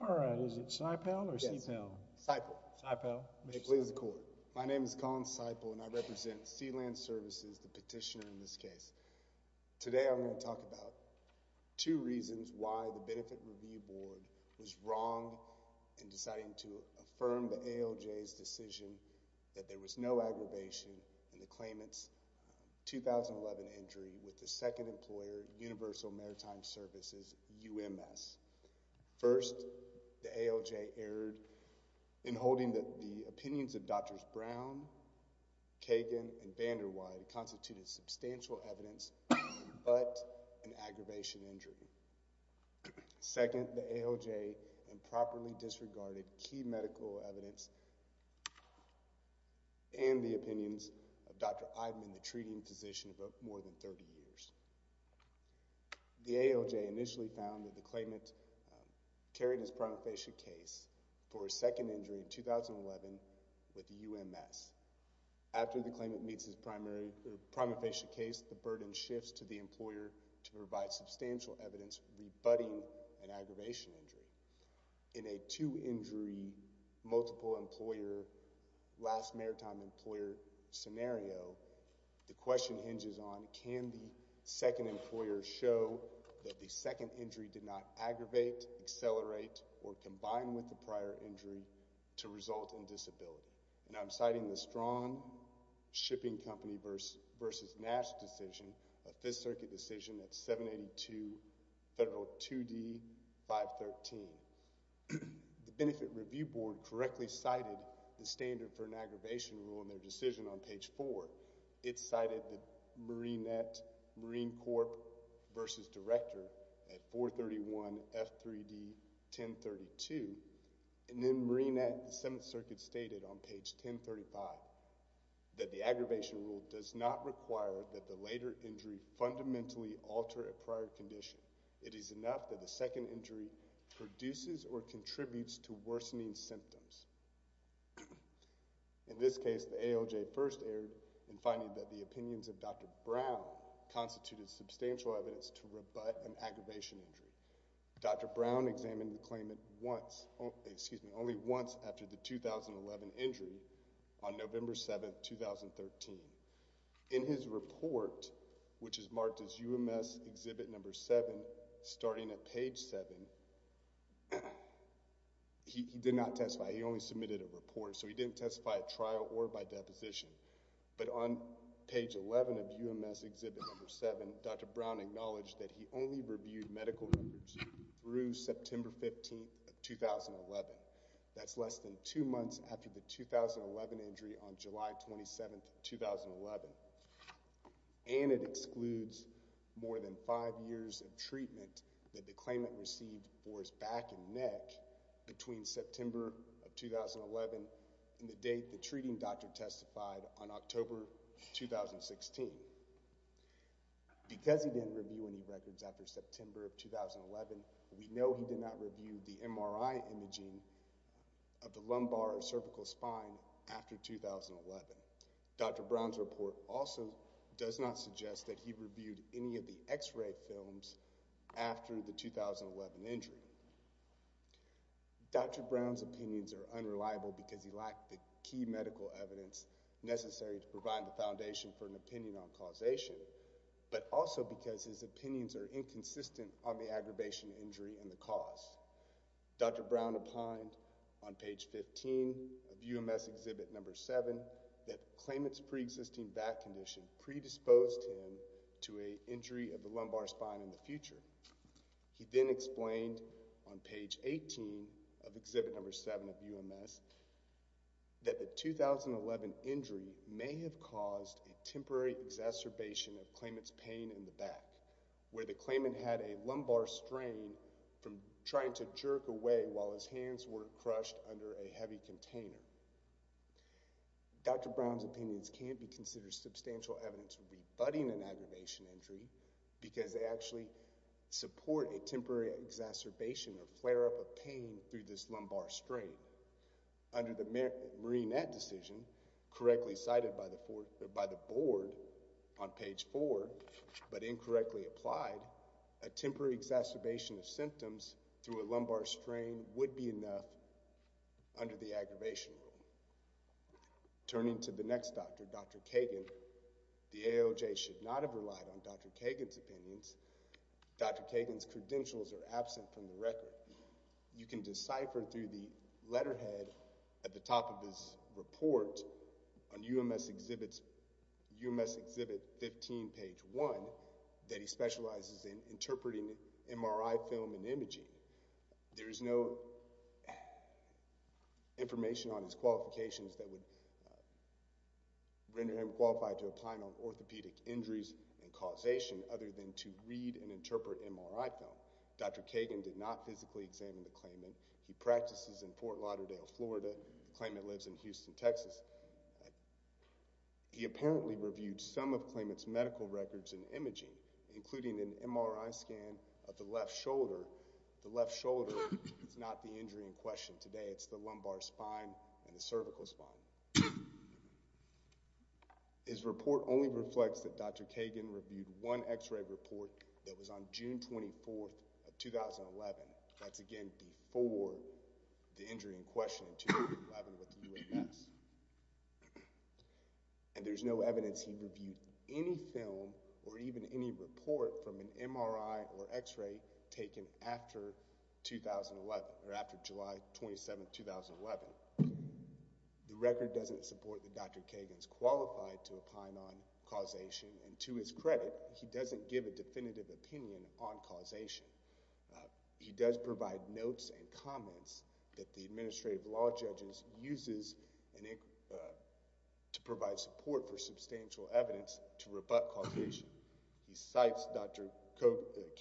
All right, is it SIPAL or CIPAL? SIPAL. SIPAL. Make it clear to the court. My name is Colin SIPAL and I represent Sea-Land Services, the petitioner in this case. Today I'm going to talk about two reasons why the Benefit Review Board was wrong in deciding to affirm the claimant's 2011 injury with the second employer, Universal Maritime Services, UMS. First, the ALJ erred in holding that the opinions of Drs. Brown, Kagan, and Vanderweide constituted substantial evidence but an aggravation injury. Second, the ALJ improperly disregarded key medical evidence and the opinions of Dr. Eidman, the treating physician, for more than 30 years. The ALJ initially found that the claimant carried his prima facie case for a second injury in 2011 with UMS. After the claimant meets his prima facie case, the burden shifts to the employer to provide substantial evidence rebutting an aggravation injury. In a two-injury, multiple-employer, last maritime employer scenario, the question hinges on can the second employer show that the second injury did not aggravate, accelerate, or combine with the prior injury to result in disability? And I'm citing the Strong Shipping Company v. Nash decision, a Fifth Circuit decision at 782 Federal 2D 513. The Benefit Review Board correctly cited the standard for an aggravation rule in their decision on page four. It cited the Marine Corp. v. Director at 431 F3D 1032, and then Marine at the Seventh Circuit. The aggravation rule does not require that the later injury fundamentally alter a prior condition. It is enough that the second injury produces or contributes to worsening symptoms. In this case, the ALJ first erred in finding that the opinions of Dr. Brown constituted substantial evidence to rebut an aggravation injury. Dr. Brown examined the claimant only once after the 2011 injury, on November 7, 2013. In his report, which is marked as UMS Exhibit No. 7, starting at page 7, he did not testify. He only submitted a report, so he didn't testify at trial or by deposition. But on page 11 of UMS Exhibit No. 7, Dr. Brown acknowledged that he only reviewed medical records through September 15, 2011. That's less than two months after the 2011 injury on July 27, 2011. And it excludes more than five years of treatment that the claimant received for his back and neck between September of 2011 and the date the treating doctor testified on October 2016. Because he didn't review any records after September of 2011, we know he did not review the MRI imaging of the lumbar or cervical spine after 2011. Dr. Brown's report also does not suggest that he reviewed any of the x-ray films after the 2011 injury. Dr. Brown's opinions are unreliable because he lacked the key medical evidence necessary to provide the foundation for an opinion on causation, but also because his opinions are inconsistent on the aggravation injury and the cause. Dr. Brown opined on page 15 of UMS Exhibit No. 7 that the claimant's pre-existing back condition predisposed him to an injury of the lumbar spine in the future. He then explained on page 18 of Exhibit No. 7 of UMS that the 2011 injury may have caused a temporary exacerbation of the claimant's pain in the back, where the claimant had a lumbar strain from trying to jerk away while his hands were crushed under a heavy container. Dr. Brown's opinions can't be considered substantial evidence rebutting an aggravation injury because they actually support a temporary exacerbation or flare-up of pain through this lumbar strain. Under the Marinette decision, correctly cited by the board on page 4, but incorrectly applied, a temporary exacerbation of symptoms through a lumbar strain would be enough under the aggravation rule. Turning to the next doctor, Dr. Kagan, the AOJ should not have relied on Dr. Kagan's opinions. Dr. Kagan's credentials are absent from the record. You can decipher through the letterhead at the top of his report on UMS Exhibit 15, page 1, that he specializes in interpreting MRI film and imaging. There is no information on his qualifications that would render him qualified to apply on orthopedic injuries and causation other than to read and interpret MRI film. Dr. Kagan did not physically examine the claimant. He practices in Fort Lauderdale, Florida. The claimant lives in Houston, Texas. He apparently reviewed some of the claimant's medical records and imaging, including an MRI scan of the left shoulder. The left shoulder is not the injury in question today. It's the lumbar spine and the cervical spine. His report only reflects that Dr. Kagan reviewed one x-ray report that was on June 24, 2011. That's again before the injury in question in 2011 with UMS. And there's no evidence he reviewed any film or even any report from an MRI or x-ray taken after 2011 or after July 27, 2011. The record doesn't support that Dr. Kagan's qualified to opine on causation. And to his credit, he doesn't give a definitive opinion on causation. He does provide notes and comments that the administrative law judges uses to provide support for substantial evidence to rebut causation. He cites Dr.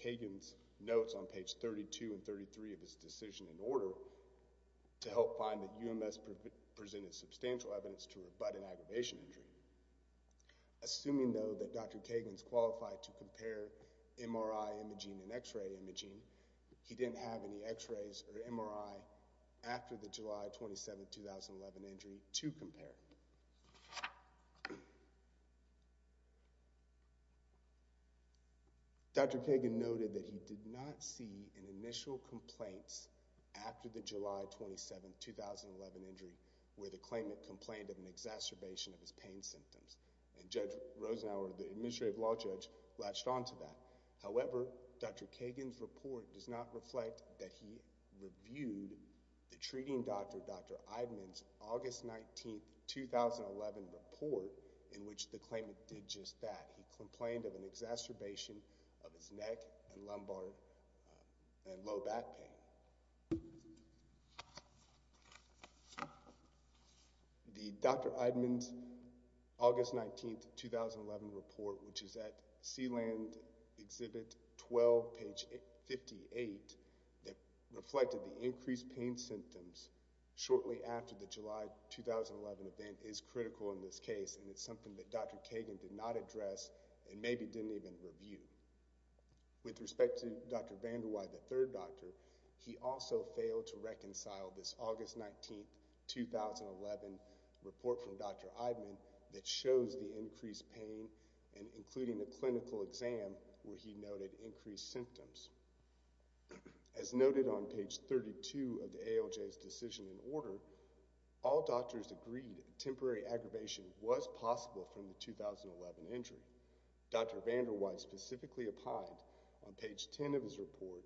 Kagan's notes on page 32 and 33 of his decision in order to help find that UMS presented substantial evidence to rebut an aggravation injury. Assuming, though, that Dr. Kagan is qualified to compare MRI imaging and x-ray imaging, he didn't have any x-rays or MRI after the July 27, 2011 injury to compare. Dr. Kagan noted that he did not see any initial complaints after the July 27, 2011 injury where the claimant complained of an exacerbation of his pain symptoms. And Judge Rosenauer, the administrative law judge, latched onto that. However, Dr. Kagan's report does not reflect that he reviewed the treating doctor, Dr. Eidman's, August 19, 2011 report in which the claimant did just that. He complained of an exacerbation of his neck and lumbar and low back pain. The Dr. Eidman's August 19, 2011 report, which is at Sealand Exhibit 12, page 58, that reflected the increased pain symptoms shortly after the July 2011 event is critical in this case and it's something that Dr. Kagan did not address and maybe didn't even review. With respect to Dr. Vandewey, the third doctor, he also failed to reconcile this August 19, 2011 report from Dr. Eidman that shows the increased pain and including a clinical exam where he noted increased symptoms. As noted on page 32 of the ALJ's decision and order, all doctors agreed temporary aggravation was possible from the 2011 injury. Dr. Vandewey specifically opined on page 10 of his report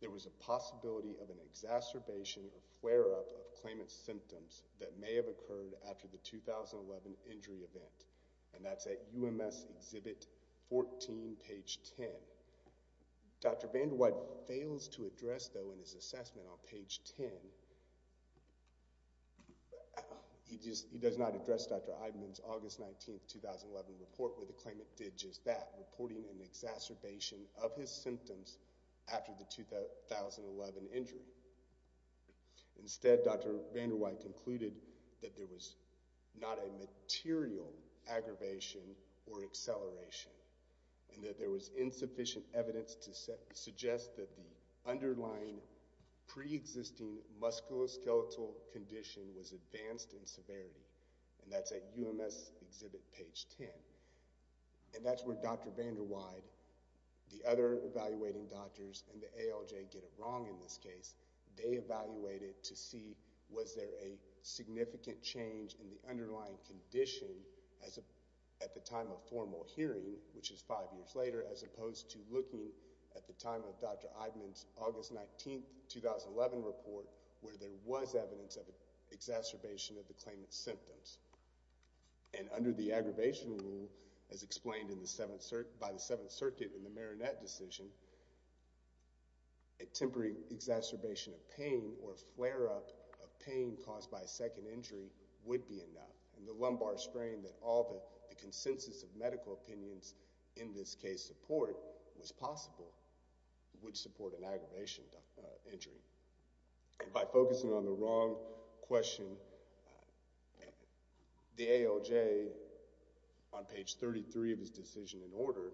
there was a possibility of an exacerbation or flare-up of claimant's symptoms that may have occurred after the 2011 injury event and that's at UMS Exhibit 14, page 10. Dr. Vandewey fails to address though in his assessment on page 10, he does not address Dr. Eidman's August 19, 2011 report with the claimant did just that, reporting an exacerbation of his symptoms after the 2011 injury. Instead, Dr. Vandewey concluded that there was not a and that there was insufficient evidence to suggest that the underlying pre-existing musculoskeletal condition was advanced in severity and that's at UMS Exhibit page 10. And that's where Dr. Vandewey, the other evaluating doctors and the ALJ get it wrong in this case. They evaluated to see was there a significant change in the underlying condition at the time of formal hearing, which is five years later, as opposed to looking at the time of Dr. Eidman's August 19, 2011 report where there was evidence of an exacerbation of the claimant's symptoms. And under the aggravation rule, as explained by the Seventh Circuit in the Marinette decision, a temporary exacerbation of pain or flare-up of pain caused by a second injury would be enough. And the lumbar strain that all the consensus of medical opinions in this case support was possible would support an aggravation injury. By focusing on the wrong question, the ALJ on page 33 of his decision in order,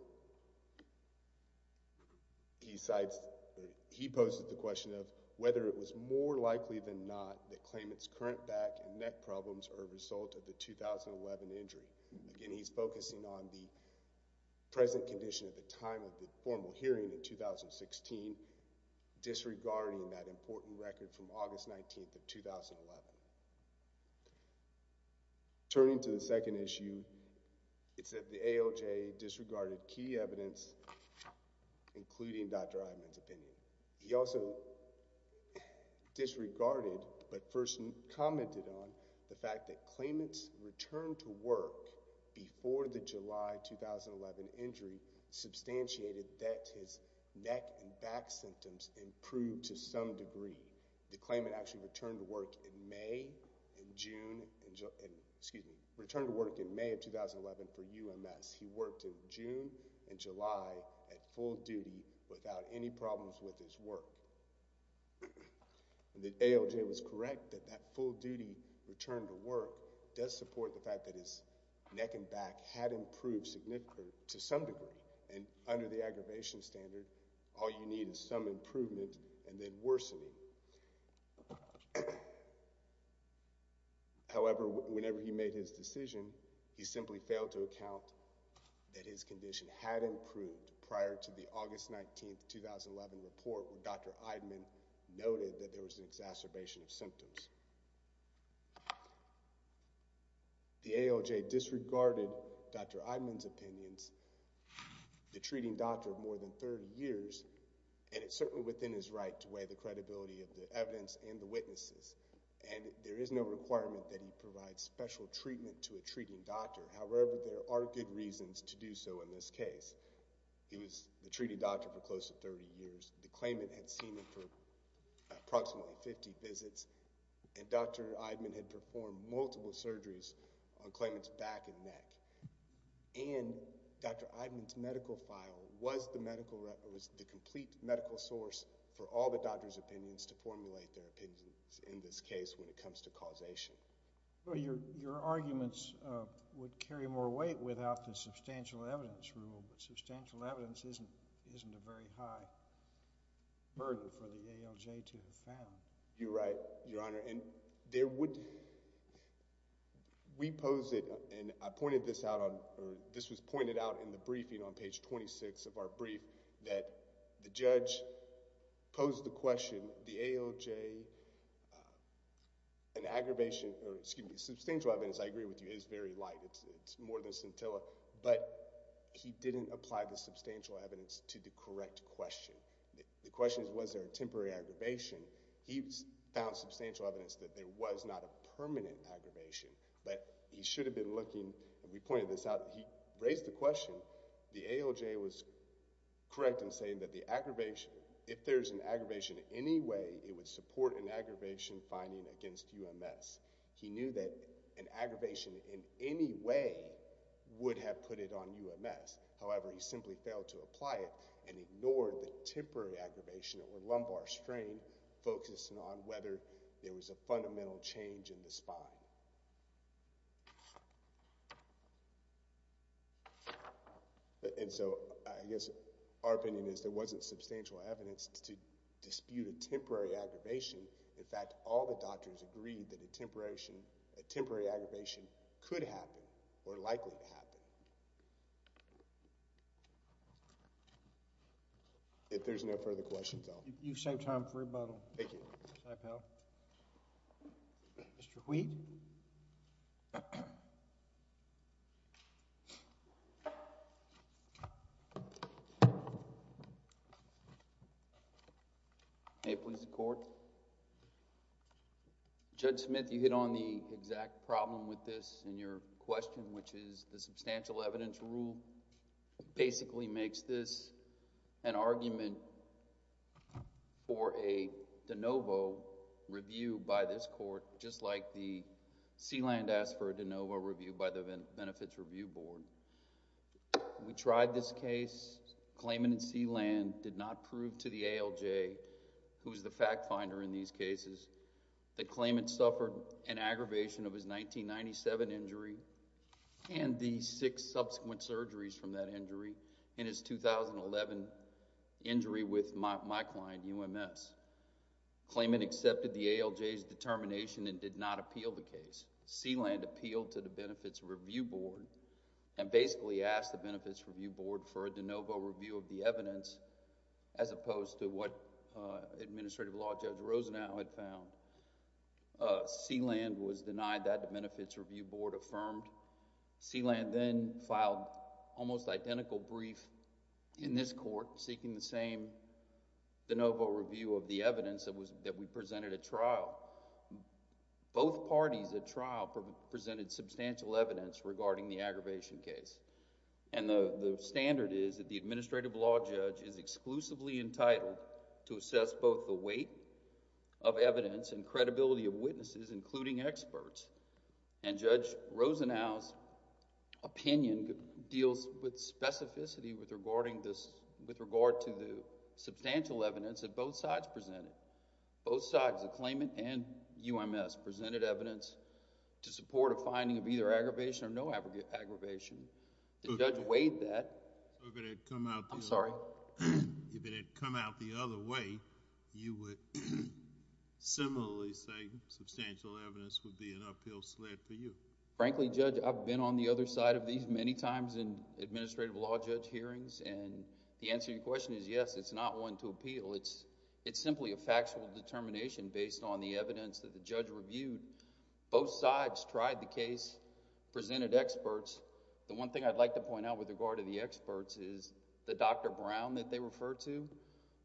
he poses the question of whether it was more likely than not that claimant's current back and neck problems are a result of the 2011 injury. Again, he's focusing on the present condition at the time of the formal hearing in 2016 disregarding that important record from August 19, 2011. Turning to the second issue, it said the ALJ disregarded key evidence, including Dr. Eidman's opinion. He also disregarded but first commented on the fact that claimant's return to work before the July 2011 injury substantiated his neck and back symptoms improved to some degree. The claimant actually returned to work in May of 2011 for UMS. He worked in June and July at full duty without any problems with his work. The ALJ was correct that that full duty return to work does support the fact that his neck and back symptoms improved to some degree. However, whenever he made his decision, he simply failed to account that his condition had improved prior to the August 19, 2011 report where Dr. Eidman noted that there was an exacerbation of symptoms. The ALJ disregarded Dr. Eidman's opinions, the treating doctor of more than 30 years, and it's certainly within his right to weigh the credibility of the evidence and the witnesses. And there is no requirement that he provide special treatment to a treating doctor. However, there are good reasons to do so in this case. He was the treating doctor for close to 30 years. The claimant had seen him for approximately 50 visits, and Dr. Eidman had performed multiple surgeries on claimant's back and neck. And Dr. Eidman's medical file was the medical, was the complete medical source for all the doctor's opinions to formulate their opinions in this case when it comes to causation. Your arguments would carry more weight without the substantial evidence rule, but substantial evidence isn't a very high burden for the ALJ to have found. You're right, Your Honor. And there would, we posed it, and I pointed this out on, or this was pointed out in the briefing on page 26 of our brief, that the judge posed the question, the ALJ, an aggravation, or excuse me, substantial evidence, I agree with you, is very light. It's more than scintilla, but he didn't apply the substantial evidence to the correct question. The question is, was there a temporary aggravation? He found substantial evidence that there was not a permanent aggravation, but he should have been looking, and we pointed this out, he raised the question, the ALJ was correct in saying that the aggravation, if there's an aggravation anyway, it would support an aggravation finding against UMS. He knew that an aggravation in any way would have put it on UMS. However, he simply failed to apply it, and ignored the temporary aggravation, or lumbar strain, focusing on whether there was a fundamental change in the spine. And so, I guess our opinion is there wasn't substantial evidence to dispute a temporary aggravation. In fact, all the doctors agreed that a temporary aggravation could happen, or likely to happen. If there's no further questions, I'll... You've saved time for rebuttal. Thank you. Hi, pal. Mr. Wheat? May it please the Court? Judge Smith, you hit on the exact problem with this in your question, which is the substantial evidence rule basically makes this an argument for a de novo review by this Court, just like the Sealand asked for a de novo review by the Benefits Review Board. We tried this case, claimant in Sealand did not prove to the ALJ, who's the fact finder in these cases, that claimant suffered an aggravation of his 1997 injury, and the six subsequent surgeries from that injury, and his 2011 injury with my client, UMS. Claimant accepted the ALJ's determination and did not appeal the case. Sealand appealed to the Benefits Review Board, and basically asked the Benefits Review Board for a de novo review of the evidence, as opposed to what Administrative Law Judge Rosenau had found. Sealand was denied that, the Benefits Review Board affirmed. Sealand then filed almost identical brief in this Court, seeking the same de novo review of the evidence that we presented at trial. Both parties at trial presented substantial evidence regarding the aggravation case, and the standard is that the Administrative Law Judge is exclusively entitled to assess both the weight of evidence and credibility of witnesses, including experts, and Judge Rosenau's opinion deals with specificity with regard to the substantial evidence that both sides presented. Both sides, the claimant and UMS, presented evidence to support a finding of either aggravation or no aggravation. The judge weighed that. I'm sorry? If it had come out the other way, you would similarly say substantial evidence would be an uphill sled for you. Frankly, Judge, I've been on the other side of these many times in Administrative Law Judge hearings, and the answer to your question is yes, it's not one to appeal. It's simply a factual determination based on the evidence that the judge reviewed. Both sides tried the case, presented experts. The one thing I'd like to point out with regard to the experts is the Dr. Brown that they referred to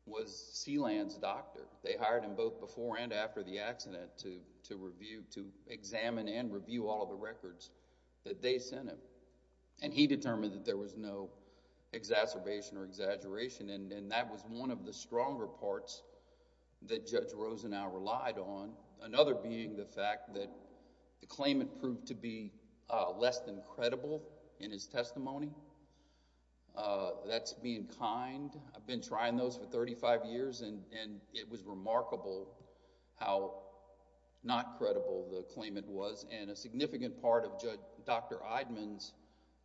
was Sealand's doctor. They hired him both before and after the accident to review, to examine and review all of the records that they sent him, and he determined that there was no exacerbation or exaggeration, and that was one of the stronger parts that Judge Rosenau relied on, another being the fact that the claimant proved to be less than credible in his testimony. That's being how not credible the claimant was, and a significant part of Dr. Eidman's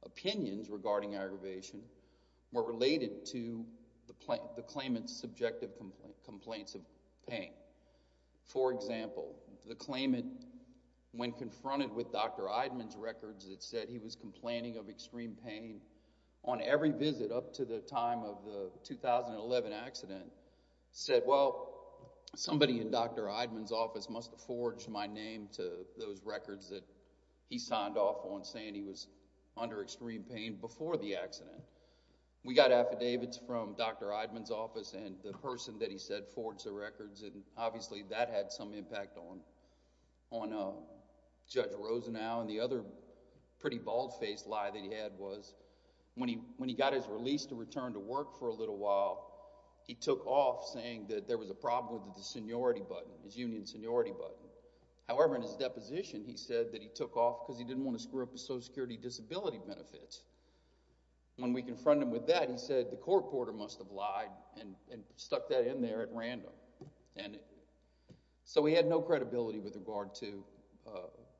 opinions regarding aggravation were related to the claimant's subjective complaints of pain. For example, the claimant, when confronted with Dr. Eidman's records that said he was complaining of extreme pain, the attorney in Dr. Eidman's office must have forged my name to those records that he signed off on saying he was under extreme pain before the accident. We got affidavits from Dr. Eidman's office and the person that he said forged the records, and obviously that had some impact on Judge Rosenau, and the other pretty bald-faced lie that he had was when he got his release to return to work for a little while, he took off saying that there was a problem with the seniority button, his union seniority button. However, in his deposition, he said that he took off because he didn't want to screw up his Social Security disability benefits. When we confronted him with that, he said the court reporter must have lied and stuck that in there at random. So he had no credibility with regard to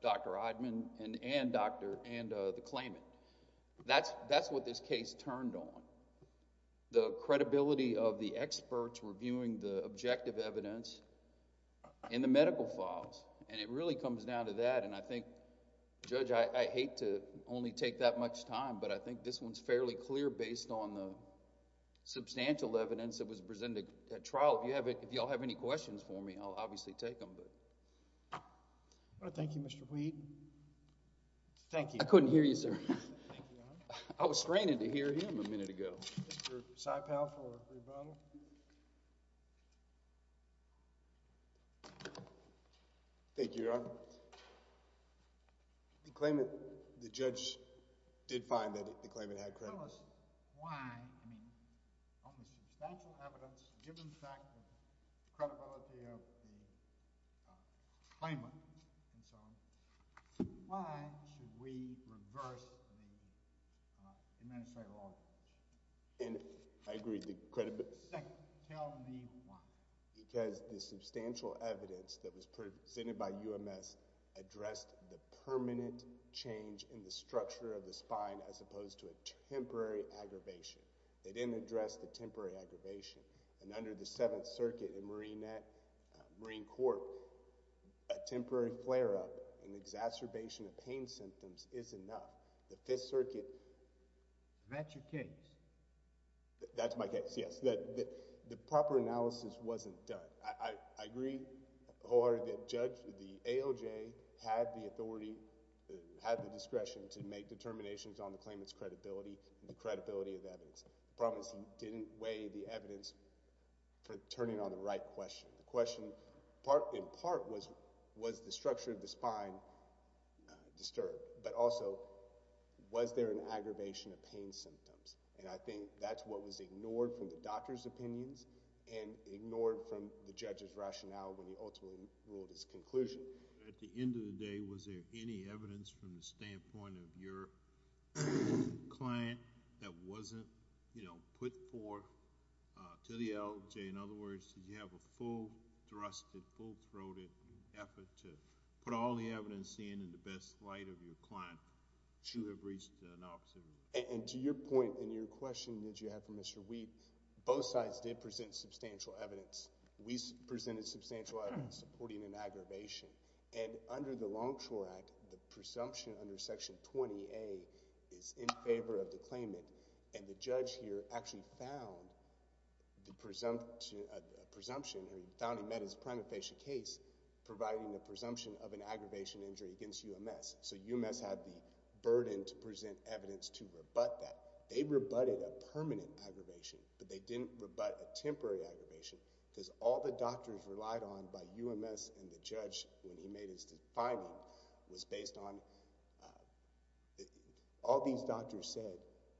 Dr. Eidman and the claimant. That's what this case turned on. The credibility of the experts reviewing the objective evidence in the medical files, and it really comes down to that, and I think, Judge, I hate to only take that much time, but I think this one's fairly clear based on the substantial evidence that was presented at trial. If you all have any questions for me, I'll obviously take them. I want to thank you, Mr. Wheaton. Thank you. I couldn't hear you, sir. I was straining to hear him a minute ago. Mr. Saipal for rebuttal. Thank you, Your Honor. The claimant, the judge, did find that the claimant had credibility. Tell us why, I mean, on the substantial evidence, given the fact of the credibility of the Second, tell me why. Because the substantial evidence that was presented by UMS addressed the permanent change in the structure of the spine as opposed to a temporary aggravation. They didn't address the temporary aggravation. And under the Seventh Circuit in Marine Corps, a temporary flare-up and exacerbation of pain symptoms is enough. The Fifth Circuit... That's your case. That's my case, yes. The proper analysis wasn't done. I agree, Your Honor, that Judge, the AOJ, had the authority, had the discretion to make determinations on the claimant's credibility and the credibility of the evidence. The problem is he didn't weigh the evidence for turning on the right question. The question, in part, was, was the structure of the spine disturbed? But also, was there an aggravation of pain symptoms? And I think that's what was ignored from the doctor's opinions and ignored from the judge's rationale when he ultimately ruled his conclusion. At the end of the day, was there any evidence from the standpoint of your client that wasn't, you know, put forth to the AOJ? In other words, did you have a full-thrusted, full-throated effort to put all the evidence in in the best light of your client to have reached an optimum? And to your point and your question that you have for Mr. Wheat, both sides did present substantial evidence. We presented substantial evidence supporting an aggravation. And under the Longshore Act, the presumption under Section 20A is in favor of the claimant. And the lawyer actually found the presumption, or he found and met his prima facie case providing the presumption of an aggravation injury against UMS. So UMS had the burden to present evidence to rebut that. They rebutted a permanent aggravation, but they didn't rebut a temporary aggravation because all the doctors relied on by UMS and the judge when he made his finding was based on... all these doctors said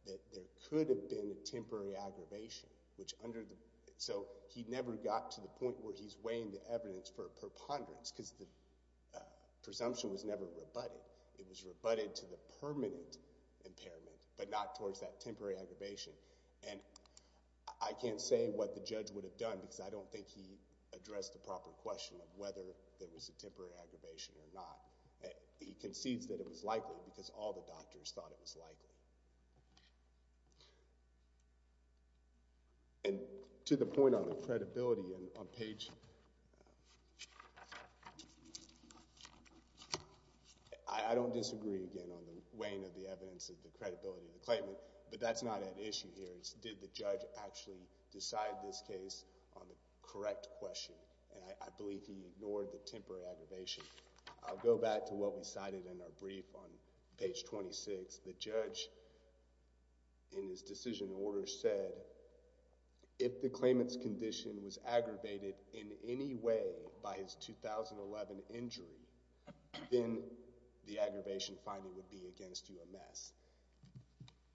that there could have been a temporary aggravation, which under the... so he never got to the point where he's weighing the evidence for a preponderance because the presumption was never rebutted. It was rebutted to the permanent impairment, but not towards that temporary aggravation. And I can't say what the judge would have done because I don't think he addressed the proper question of whether there was a temporary aggravation or not. He concedes that it was likely because all the doctors thought it was likely. And to the point on the credibility on page... I don't disagree again on the weighing of the evidence of the credibility of the claimant, but that's not at issue here. Did the judge actually decide this case on the correct question? And I believe he ignored the temporary aggravation. I'll go back to what we cited in our brief on page 26. The judge in his decision order said, if the claimant's condition was aggravated in any way by his 2011 injury, then the aggravation finding would be against UMS.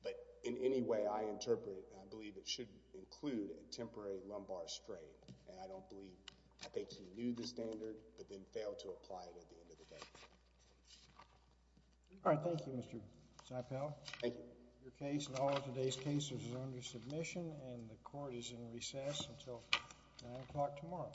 But in any way I interpret and I believe it should include a temporary lumbar sprain. And I don't believe... I don't think the judge did, but then failed to apply it at the end of the day. All right. Thank you, Mr. Seipel. Thank you. Your case and all of today's cases is under submission and the court is in recess until 9 o'clock tomorrow.